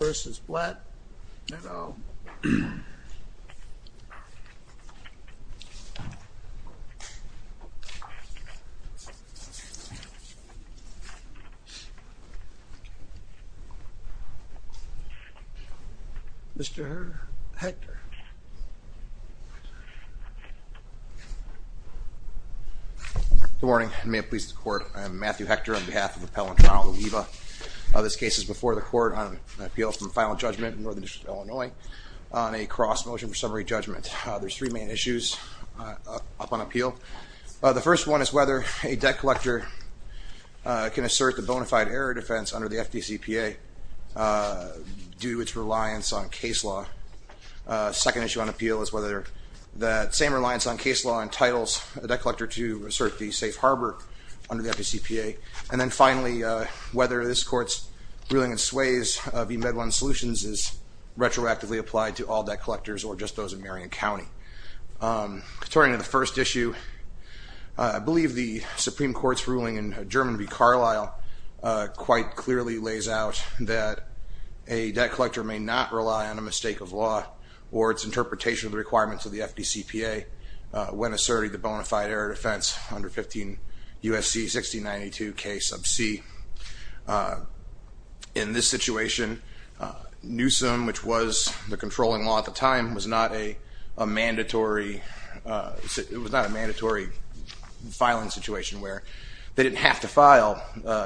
v. Blatt, and I'll... Mr. Hector. Good morning, and may it please the court, I am Matthew Hector on behalf of Appellant Oliva. This case is before the court on an appeal from the final judgment in northern Illinois on a cross motion for summary judgment. There's three main issues up on appeal. The first one is whether a debt collector can assert the bona fide error defense under the FDCPA due to its reliance on case law. Second issue on appeal is whether that same reliance on case law entitles a debt collector to assert the bona fide error defense under 15 U.S.C. 1692 K sub c. Whether this court's ruling in sways v. Medlon Solutions is retroactively applied to all debt collectors or just those in Marion County. Turning to the first issue, I believe the Supreme Court's ruling in German v. Carlisle quite clearly lays out that a debt collector may not rely on a mistake of law or its interpretation of the requirements of the FDCPA when asserting the bona fide error defense under 15 U.S.C. 1692 K sub c. In this situation, Newsom, which was the controlling law at the time, was not a mandatory filing situation where they didn't have to file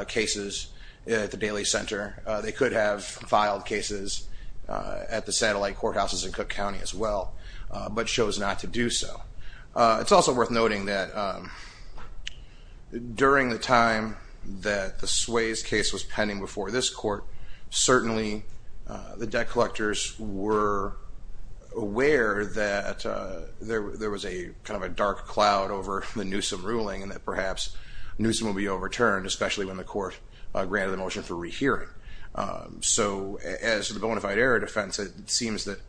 cases at the Daily Center. They could have filed cases at the satellite courthouses in Cook County as well, but chose not to do so. It's also worth noting that during the time that the Sways case was pending before this court, certainly the debt collectors were aware that there was a kind of a dark cloud over the Newsom ruling and that perhaps Newsom will be overturned, especially when the court granted the motion for rehearing. So as the bona fide error defense, it seems that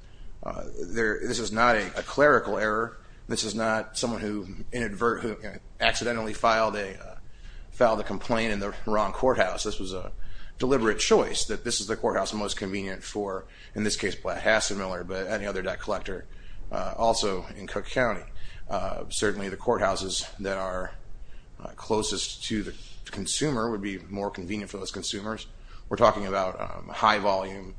this is not a clerical error. This is not someone who inadvertently accidentally filed a complaint in the wrong courthouse. This was a deliberate choice that this is the courthouse most convenient for, in this case, Blatt Hassett Miller, but any other debt collector also in Cook County. Certainly the courthouses that are closest to the consumer would be more convenient for those consumers. We're talking about high-volume,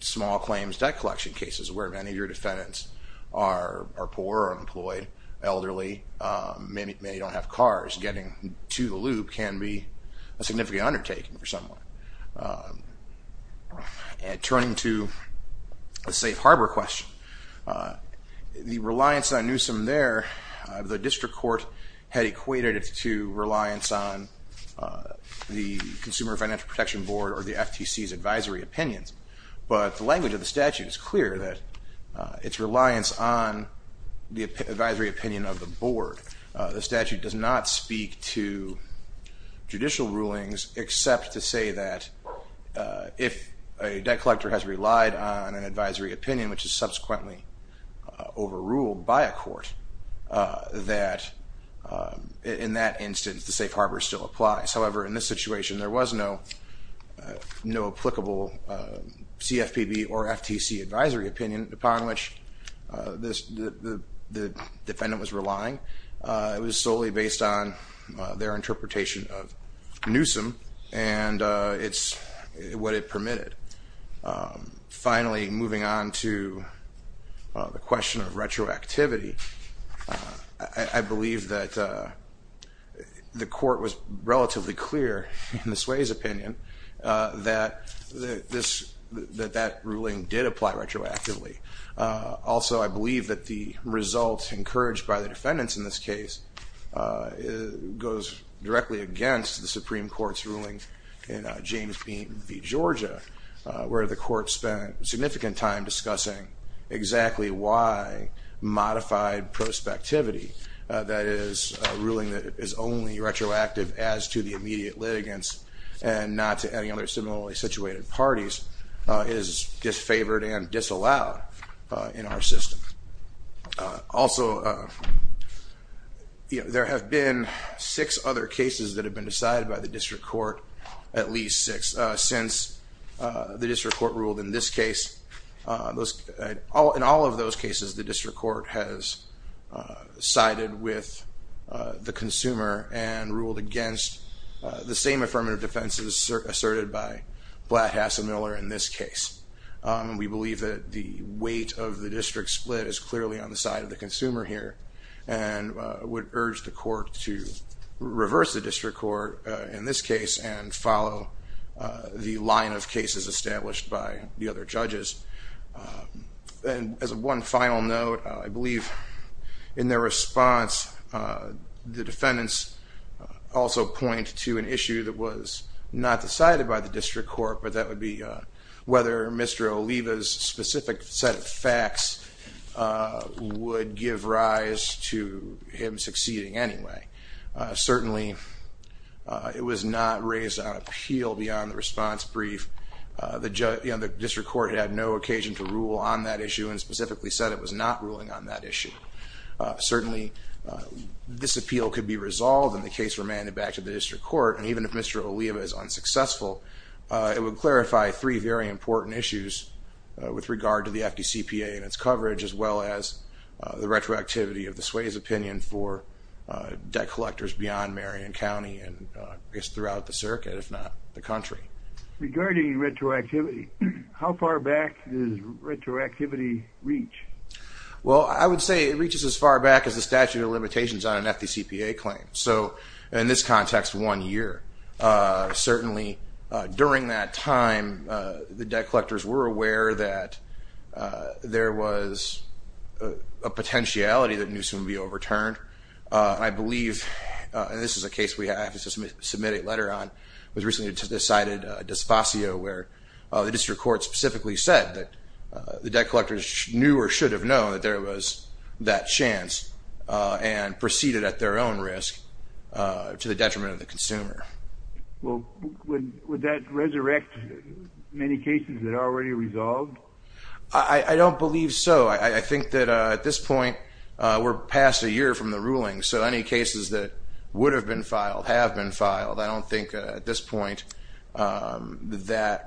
small claims debt collection cases where many of your defendants are poor or unemployed, elderly, many don't have cars. Getting to the loop can be a significant undertaking for someone. And turning to a safe harbor question, the reliance on Newsom there, the district court had equated it to reliance on the Consumer Financial Protection Board or the FTC's advisory opinions, but the language of the statute is clear that its reliance on the advisory opinion of the board. The statute does not speak to judicial rulings except to say that if a debt collector has relied on an advisory opinion, which is subsequently overruled by a court, that in that instance the safe harbor still applies. However, in this situation there was no applicable CFPB or FTC advisory opinion upon which the defendant was relying. It was solely based on their interpretation of Newsom and what it permitted. Finally, moving on to the Sway's opinion, that ruling did apply retroactively. Also, I believe that the results encouraged by the defendants in this case goes directly against the Supreme Court's rulings in James v. Georgia, where the court spent significant time discussing exactly why modified prospectivity, that is a ruling that is only retroactive as to the immediate litigants and not to any other similarly situated parties, is disfavored and disallowed in our system. Also, there have been six other cases that have been decided by the district court, at least six, since the district court ruled in this case. In all of those cases the district court has sided with the consumer and ruled against the same affirmative defenses asserted by Blatt, Hassell, Miller in this case. We believe that the weight of the district split is clearly on the side of the consumer here and would urge the court to reverse the district court in this case and follow the line of cases established by the other judges. And as one final note, I believe in their response the defendants also point to an issue that was not decided by the district court, but that would be whether Mr. Oliva's specific set of facts would give rise to him succeeding anyway. Certainly, it was not raised on appeal beyond the response brief. The district court had no occasion to rule on that issue and specifically said it was not ruling on that issue. Certainly, this appeal could be resolved and the case remanded back to the district court, and even if Mr. Oliva is unsuccessful, it would clarify three very important issues with regard to the FDCPA and its debt collectors beyond Marion County and throughout the circuit, if not the country. Regarding retroactivity, how far back does retroactivity reach? Well, I would say it reaches as far back as the statute of limitations on an FDCPA claim. So, in this context, one year. Certainly, during that time, the debt collectors were aware that there was a potentiality that Newsom would be overturned. I believe this is a case we have to submit a letter on. It was recently decided, despacio, where the district court specifically said that the debt collectors knew or should have known that there was that chance and proceeded at their own risk to the detriment of the consumer. Well, would that resurrect many cases that are already resolved? I don't believe so. I think that at this point, that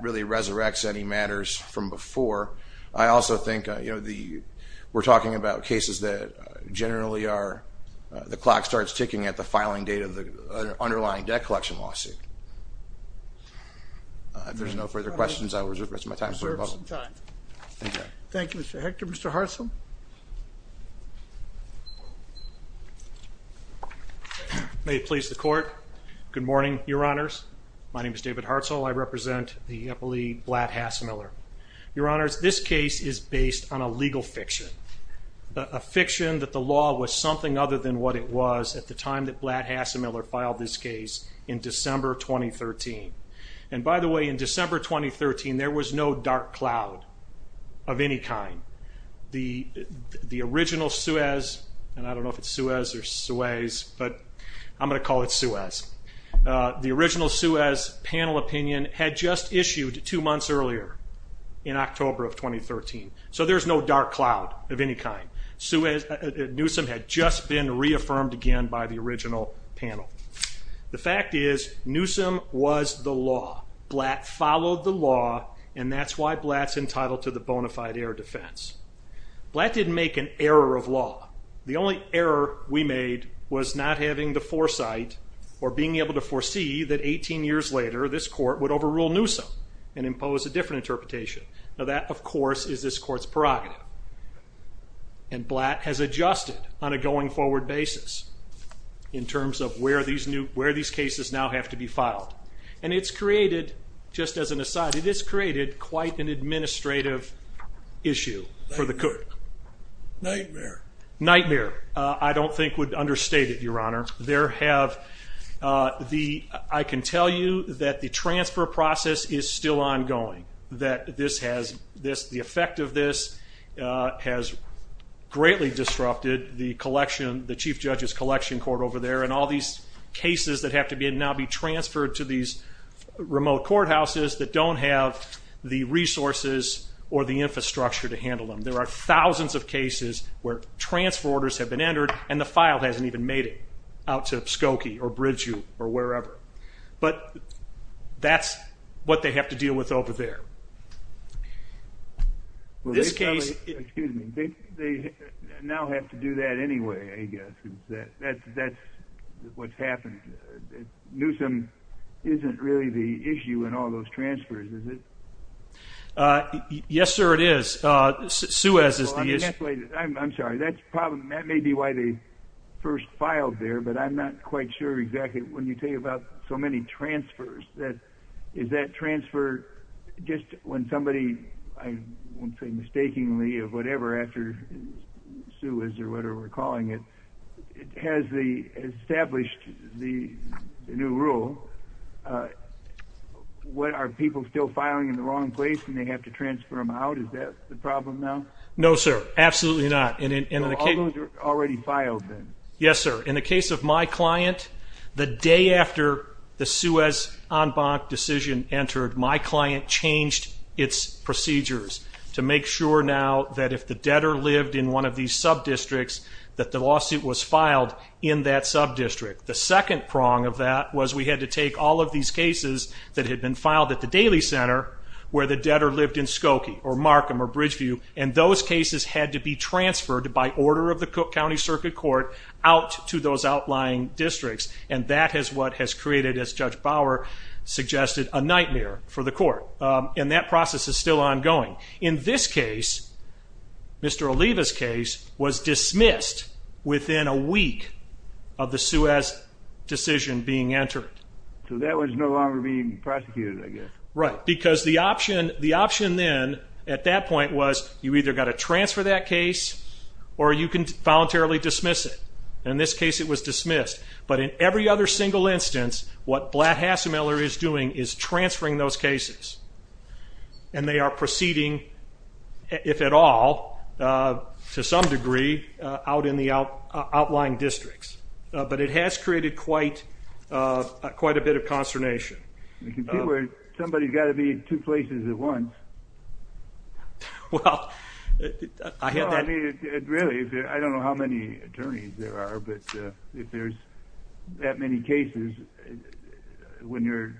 really resurrects any matters from before. I also think, you know, we're talking about cases that generally are, the clock starts ticking at the filing date of the underlying debt collection lawsuit. If there's no further questions, I'll reserve some time. Thank you, Mr. Hector. Mr. May it please the court. Good morning, Your Honors. My name is David Hartzell. I represent the Eppley Blatt-Hassemiller. Your Honors, this case is based on a legal fiction, a fiction that the law was something other than what it was at the time that Blatt-Hassemiller filed this case in December 2013. And by the way, in December 2013, there was no dark cloud of any kind. The original Suez, and I don't know if it's Suez or Suez, but I'm going to call it Suez. The original Suez panel opinion had just issued two months earlier in October of 2013. So there's no dark cloud of any kind. Newsom had just been reaffirmed again by the original panel. The fact is, Newsom was the law. Blatt followed the law, and that's why Blatt's entitled to the error of law. The only error we made was not having the foresight or being able to foresee that 18 years later this court would overrule Newsom and impose a different interpretation. Now that, of course, is this court's prerogative. And Blatt has adjusted on a going-forward basis in terms of where these new, where these cases now have to be filed. And it's created, just as an aside, it has a nightmare. Nightmare. I don't think would understate it, Your Honor. There have, the, I can tell you that the transfer process is still ongoing. That this has, this, the effect of this has greatly disrupted the collection, the Chief Judge's collection court over there, and all these cases that have to be, now be transferred to these remote courthouses that don't have the access. There are thousands of cases where transfer orders have been entered, and the file hasn't even made it out to Skokie, or Bridgeview, or wherever. But that's what they have to deal with over there. This case, excuse me, they now have to do that anyway, I guess. That's what's happened. Newsom isn't really the issue. I'm sorry, that's probably, that may be why they first filed there, but I'm not quite sure exactly, when you think about so many transfers, that, is that transfer, just when somebody, I won't say mistakingly, or whatever, after Sue, or whatever we're calling it, has the, established the new rule, what, are people still filing in the wrong place, and they have to transfer them out? Is that the case of them now? No, sir. Absolutely not. And in the case... So all those are already filed then? Yes, sir. In the case of my client, the day after the Suez en banc decision entered, my client changed its procedures to make sure now that if the debtor lived in one of these sub-districts, that the lawsuit was filed in that sub-district. The second prong of that was we had to take all of these cases that had been filed at the Daly Center, where the debtor lived in and those cases had to be transferred by order of the County Circuit Court out to those outlying districts, and that is what has created, as Judge Bauer suggested, a nightmare for the court. And that process is still ongoing. In this case, Mr. Oliva's case, was dismissed within a week of the Suez decision being entered. So that was no longer being prosecuted, I guess. Right, because the you either got to transfer that case, or you can voluntarily dismiss it. In this case, it was dismissed. But in every other single instance, what Blatt-Hassemiller is doing is transferring those cases, and they are proceeding, if at all, to some degree, out in the outlying districts. But it has created quite a bit of consternation. Somebody's got to be in two places at once. Well, I don't know how many attorneys there are, but if there's that many cases, when you're...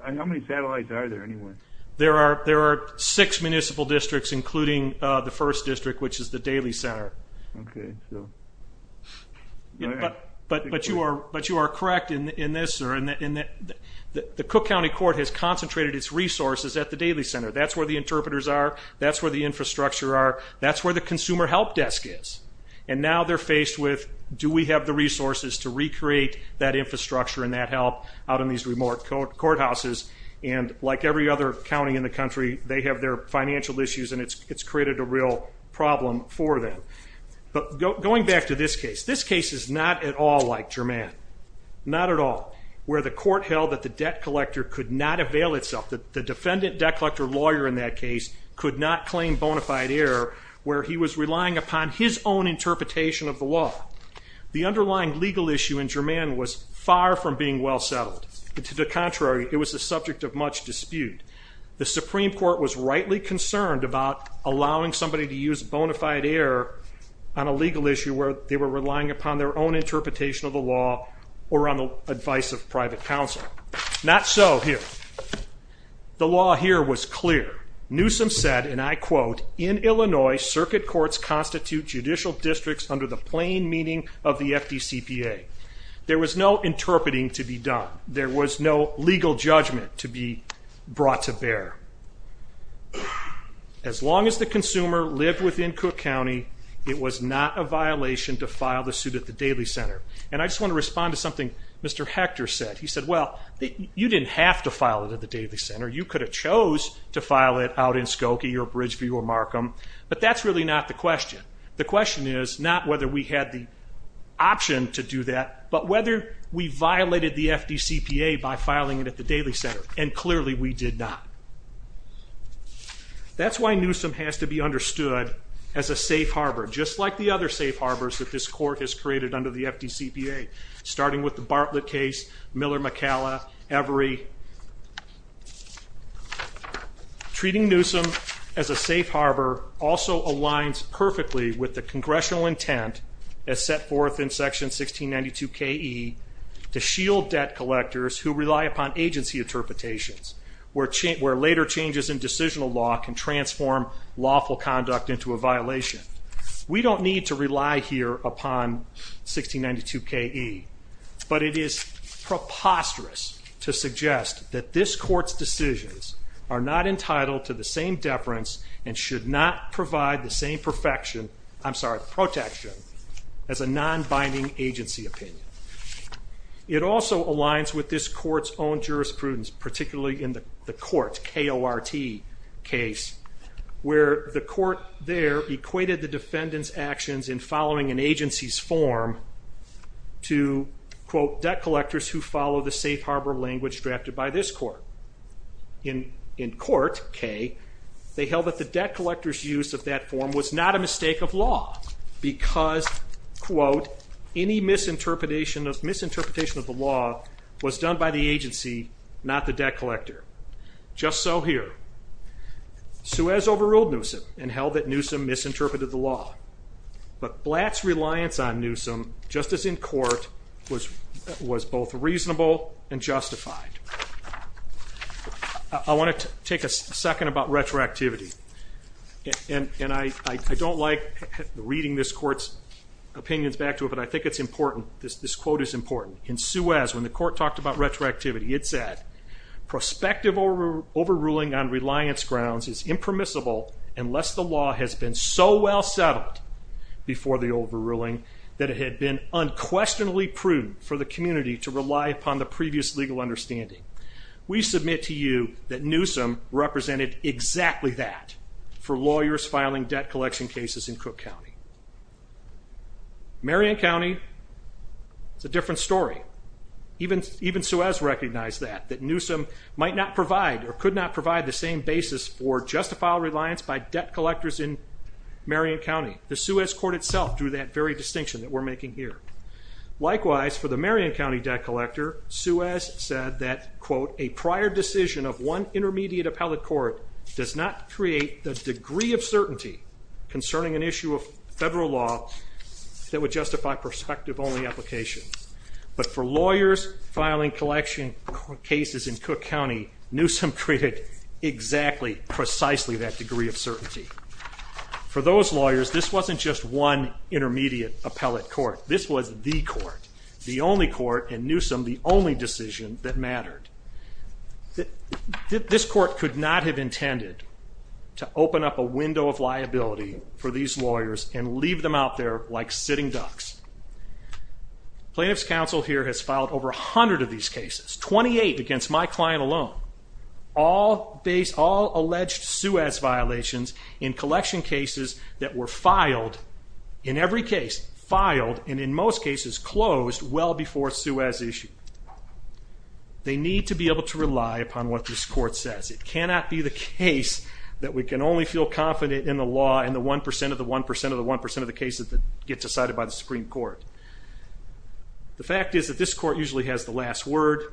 How many satellites are there, anyway? There are six municipal districts, including the first district, which is the Daly Center. Okay, so... But you are correct in this, sir. The Cook County Court has concentrated its resources at the Daly Center. That's where the interpreters are. That's where the infrastructure are. That's where the Consumer Help Desk is. And now they're faced with, do we have the resources to recreate that infrastructure and that help out in these remote courthouses? And like every other county in the country, they have their financial issues, and it's created a real problem for them. But going back to this case, this case is not at all like Germann. Not at all. Where the court held that the debt collector could not avail itself, that the defendant debt collector lawyer in that case could not claim bona fide error, where he was relying upon his own interpretation of the law. The underlying legal issue in Germann was far from being well settled. To the contrary, it was the subject of much dispute. The Supreme Court was rightly concerned about allowing somebody to use bona fide error on a legal issue where they were relying upon their own interpretation of the law or on the advice of private counsel. Not so here. The law here was clear. Newsom said, and I quote, in Illinois circuit courts constitute judicial districts under the plain meaning of the FDCPA. There was no interpreting to be done. There was no legal judgment to be brought to bear. As long as the consumer lived within Cook County, it was not a violation to file the suit at the Daly Center. And I just want to respond to something Mr. Hector said. He said, well, you didn't have to file it at the Daly Center. You could have chose to file it out in Skokie or Bridgeview or Markham, but that's really not the question. The question is not whether we had the option to do that, but whether we violated the FDCPA by filing it at the Daly Center, and clearly we did not. That's why Newsom has to be understood as a safe harbor, just like the other safe harbors that this court has created under the FDCPA, starting with the Bartlett case, Miller McCalla, Every. Treating Newsom as a safe harbor also aligns perfectly with the congressional intent as set forth in section 1692 K.E. to shield debt collectors who rely upon agency interpretations, where later changes in decisional law can transform lawful conduct into a violation. We don't need to rely here upon 1692 K.E., but it is preposterous to suggest that this court's decisions are not entitled to the same deference and should not provide the same protection as a non-binding agency opinion. It also aligns with this court's own jurisprudence, particularly in the court, K.O.R.T. case, where the court there equated the defendant's actions in following an agency's form to, quote, debt collectors who follow the safe harbor language drafted by this court. In court, K., they held that the debt collectors use of that form was not a mistake of law because, quote, any misinterpretation of misinterpretation of the law was done by the agency, not the debt collector. Just so here, Suez overruled Newsom and held that Newsom misinterpreted the law, but Blatt's reliance on Newsom, just as in court, was both reasonable and justified. I want to take a second about retroactivity, and I don't like reading this court's opinions back to it, but I think it's important, this quote is important. In retroactivity, it said, prospective overruling on reliance grounds is impermissible unless the law has been so well settled before the overruling that it had been unquestionably prudent for the community to rely upon the previous legal understanding. We submit to you that Newsom represented exactly that for lawyers filing debt collection cases in Cook County. Marion County, it's a Suez recognized that, that Newsom might not provide or could not provide the same basis for justifiable reliance by debt collectors in Marion County. The Suez Court itself drew that very distinction that we're making here. Likewise, for the Marion County debt collector, Suez said that, quote, a prior decision of one intermediate appellate court does not create the degree of certainty concerning an issue of federal law that would justify prospective only applications. But for lawyers filing collection cases in Cook County, Newsom created exactly, precisely that degree of certainty. For those lawyers, this wasn't just one intermediate appellate court. This was the court, the only court, and Newsom the only decision that mattered. This court could not have intended to open up a window of liability for these lawyers and leave them out there like sitting ducks. Plaintiff's counsel here has filed over a hundred of these cases, 28 against my client alone. All based, all alleged Suez violations in collection cases that were filed, in every case filed, and in most cases closed well before Suez issue. They need to be able to rely upon what this court says. It cannot be the case that we can only feel confident in the law and the 1% of the 1% of the cases that get decided by the Supreme Court. The fact is that this court usually has the last word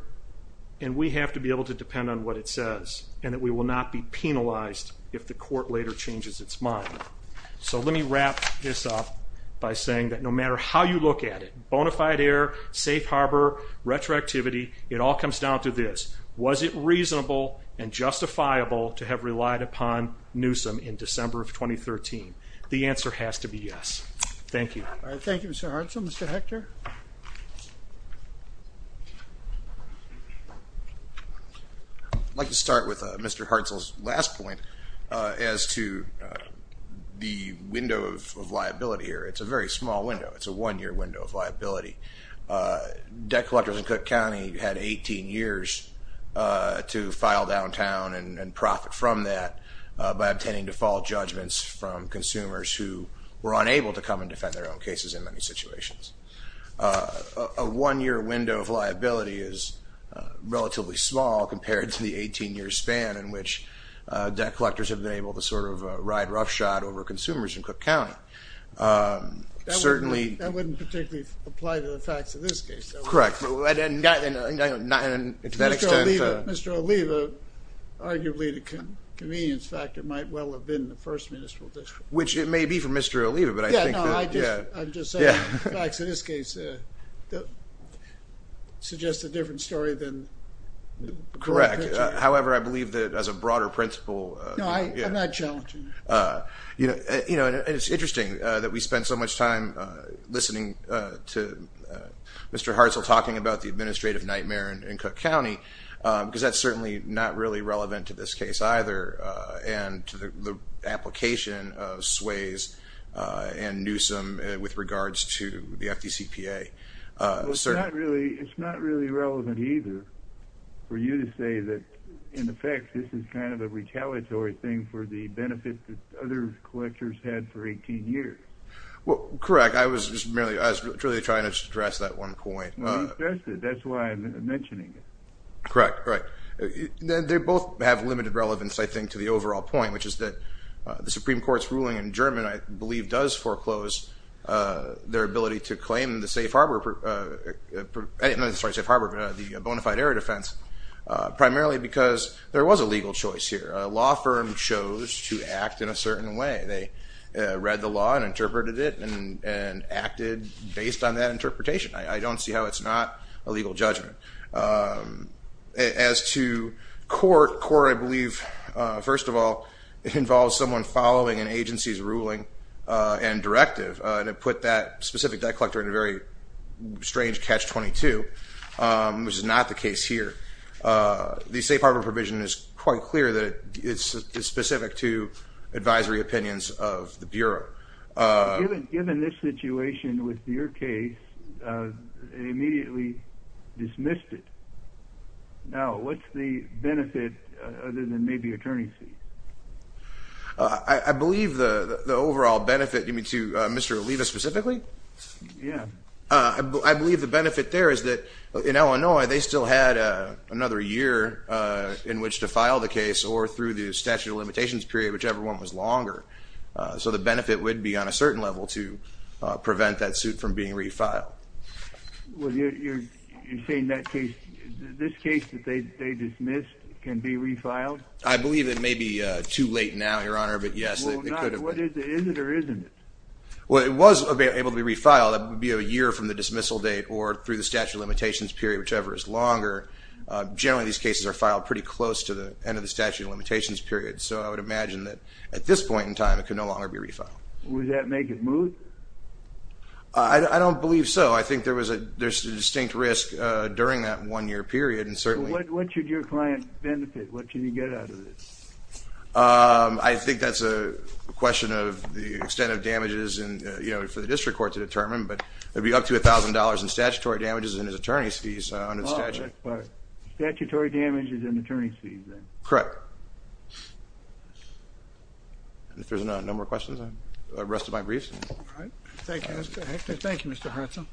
and we have to be able to depend on what it says and that we will not be penalized if the court later changes its mind. So let me wrap this up by saying that no matter how you look at it, bonafide error, safe harbor, retroactivity, it all comes down to this. Was it reasonable and yes or has to be yes? Thank you. Thank you, Mr. Hartzell. Mr. Hector? I'd like to start with Mr. Hartzell's last point as to the window of liability here. It's a very small window. It's a one-year window of liability. Debt collectors in Cook County had 18 years to file downtown and profit from that by tending to fall judgments from consumers who were unable to come and defend their own cases in many situations. A one-year window of liability is relatively small compared to the 18-year span in which debt collectors have been able to sort of ride roughshod over consumers in Cook County. That wouldn't particularly apply to the facts of this case. Mr. Oliva, arguably, the convenience factor might well have been the First Municipal District. Which it may be for Mr. Oliva, but I think... Yeah, no, I'm just saying the facts of this case suggest a different story than... Correct. However, I believe that as a broader principle... No, I'm not challenging it. You know, it's interesting that we spend so much time listening to Mr. Hartzell talking about the administrative nightmare in Cook County because that's certainly not really relevant to this case either, and to the application of Swayze and Newsom with regards to the FDCPA. It's not really relevant either for you to say that, in effect, this is kind of a retaliatory thing for the benefits that other collectors had for 18 years. Well, correct. I was just merely... I was really trying to stress that one point. That's why I'm mentioning it. Correct, right. They both have limited relevance, I think, to the overall point, which is that the Supreme Court's ruling in German, I believe, does foreclose their ability to claim the safe harbor... I'm sorry, safe harbor, the bona fide area defense, primarily because there was a legal choice here. A law firm chose to act in a certain way. They read the law and interpreted it and acted based on that interpretation. I don't see how it's not a legal judgment. As to court, court, I believe, first of all, it involves someone following an agency's ruling and directive, and it put that specific debt collector in a very strange catch-22, which is not the case here. The safe harbor provision is quite clear that it's specific to advisory opinions of the Bureau. Given this situation with your case, it immediately dismissed it. Now, what's the benefit, other than maybe attorney's fees? I believe the overall benefit, you mean to Mr. Oliva specifically? Yeah. I believe the benefit there is that in Illinois, they still had another year in which to file the case, or through the statute of limitations period, whichever one was longer. So the benefit would be on a prevent that suit from being refiled. Well, you're saying that case, this case that they dismissed can be refiled? I believe it may be too late now, Your Honor, but yes, it could have been. Is it or isn't it? Well, it was able to be refiled. It would be a year from the dismissal date or through the statute of limitations period, whichever is longer. Generally, these cases are filed pretty close to the end of the statute of limitations period. So I would imagine that at this point in time, it could no longer be refiled. Would that make it smooth? I don't believe so. I think there was a distinct risk during that one-year period, and certainly... What should your client benefit? What should you get out of this? I think that's a question of the extent of damages and, you know, for the district court to determine, but it'd be up to $1,000 in statutory damages and his attorney's fees under the statute. Statutory damages and my reason. Thank you. Thank you, Mr. Hudson.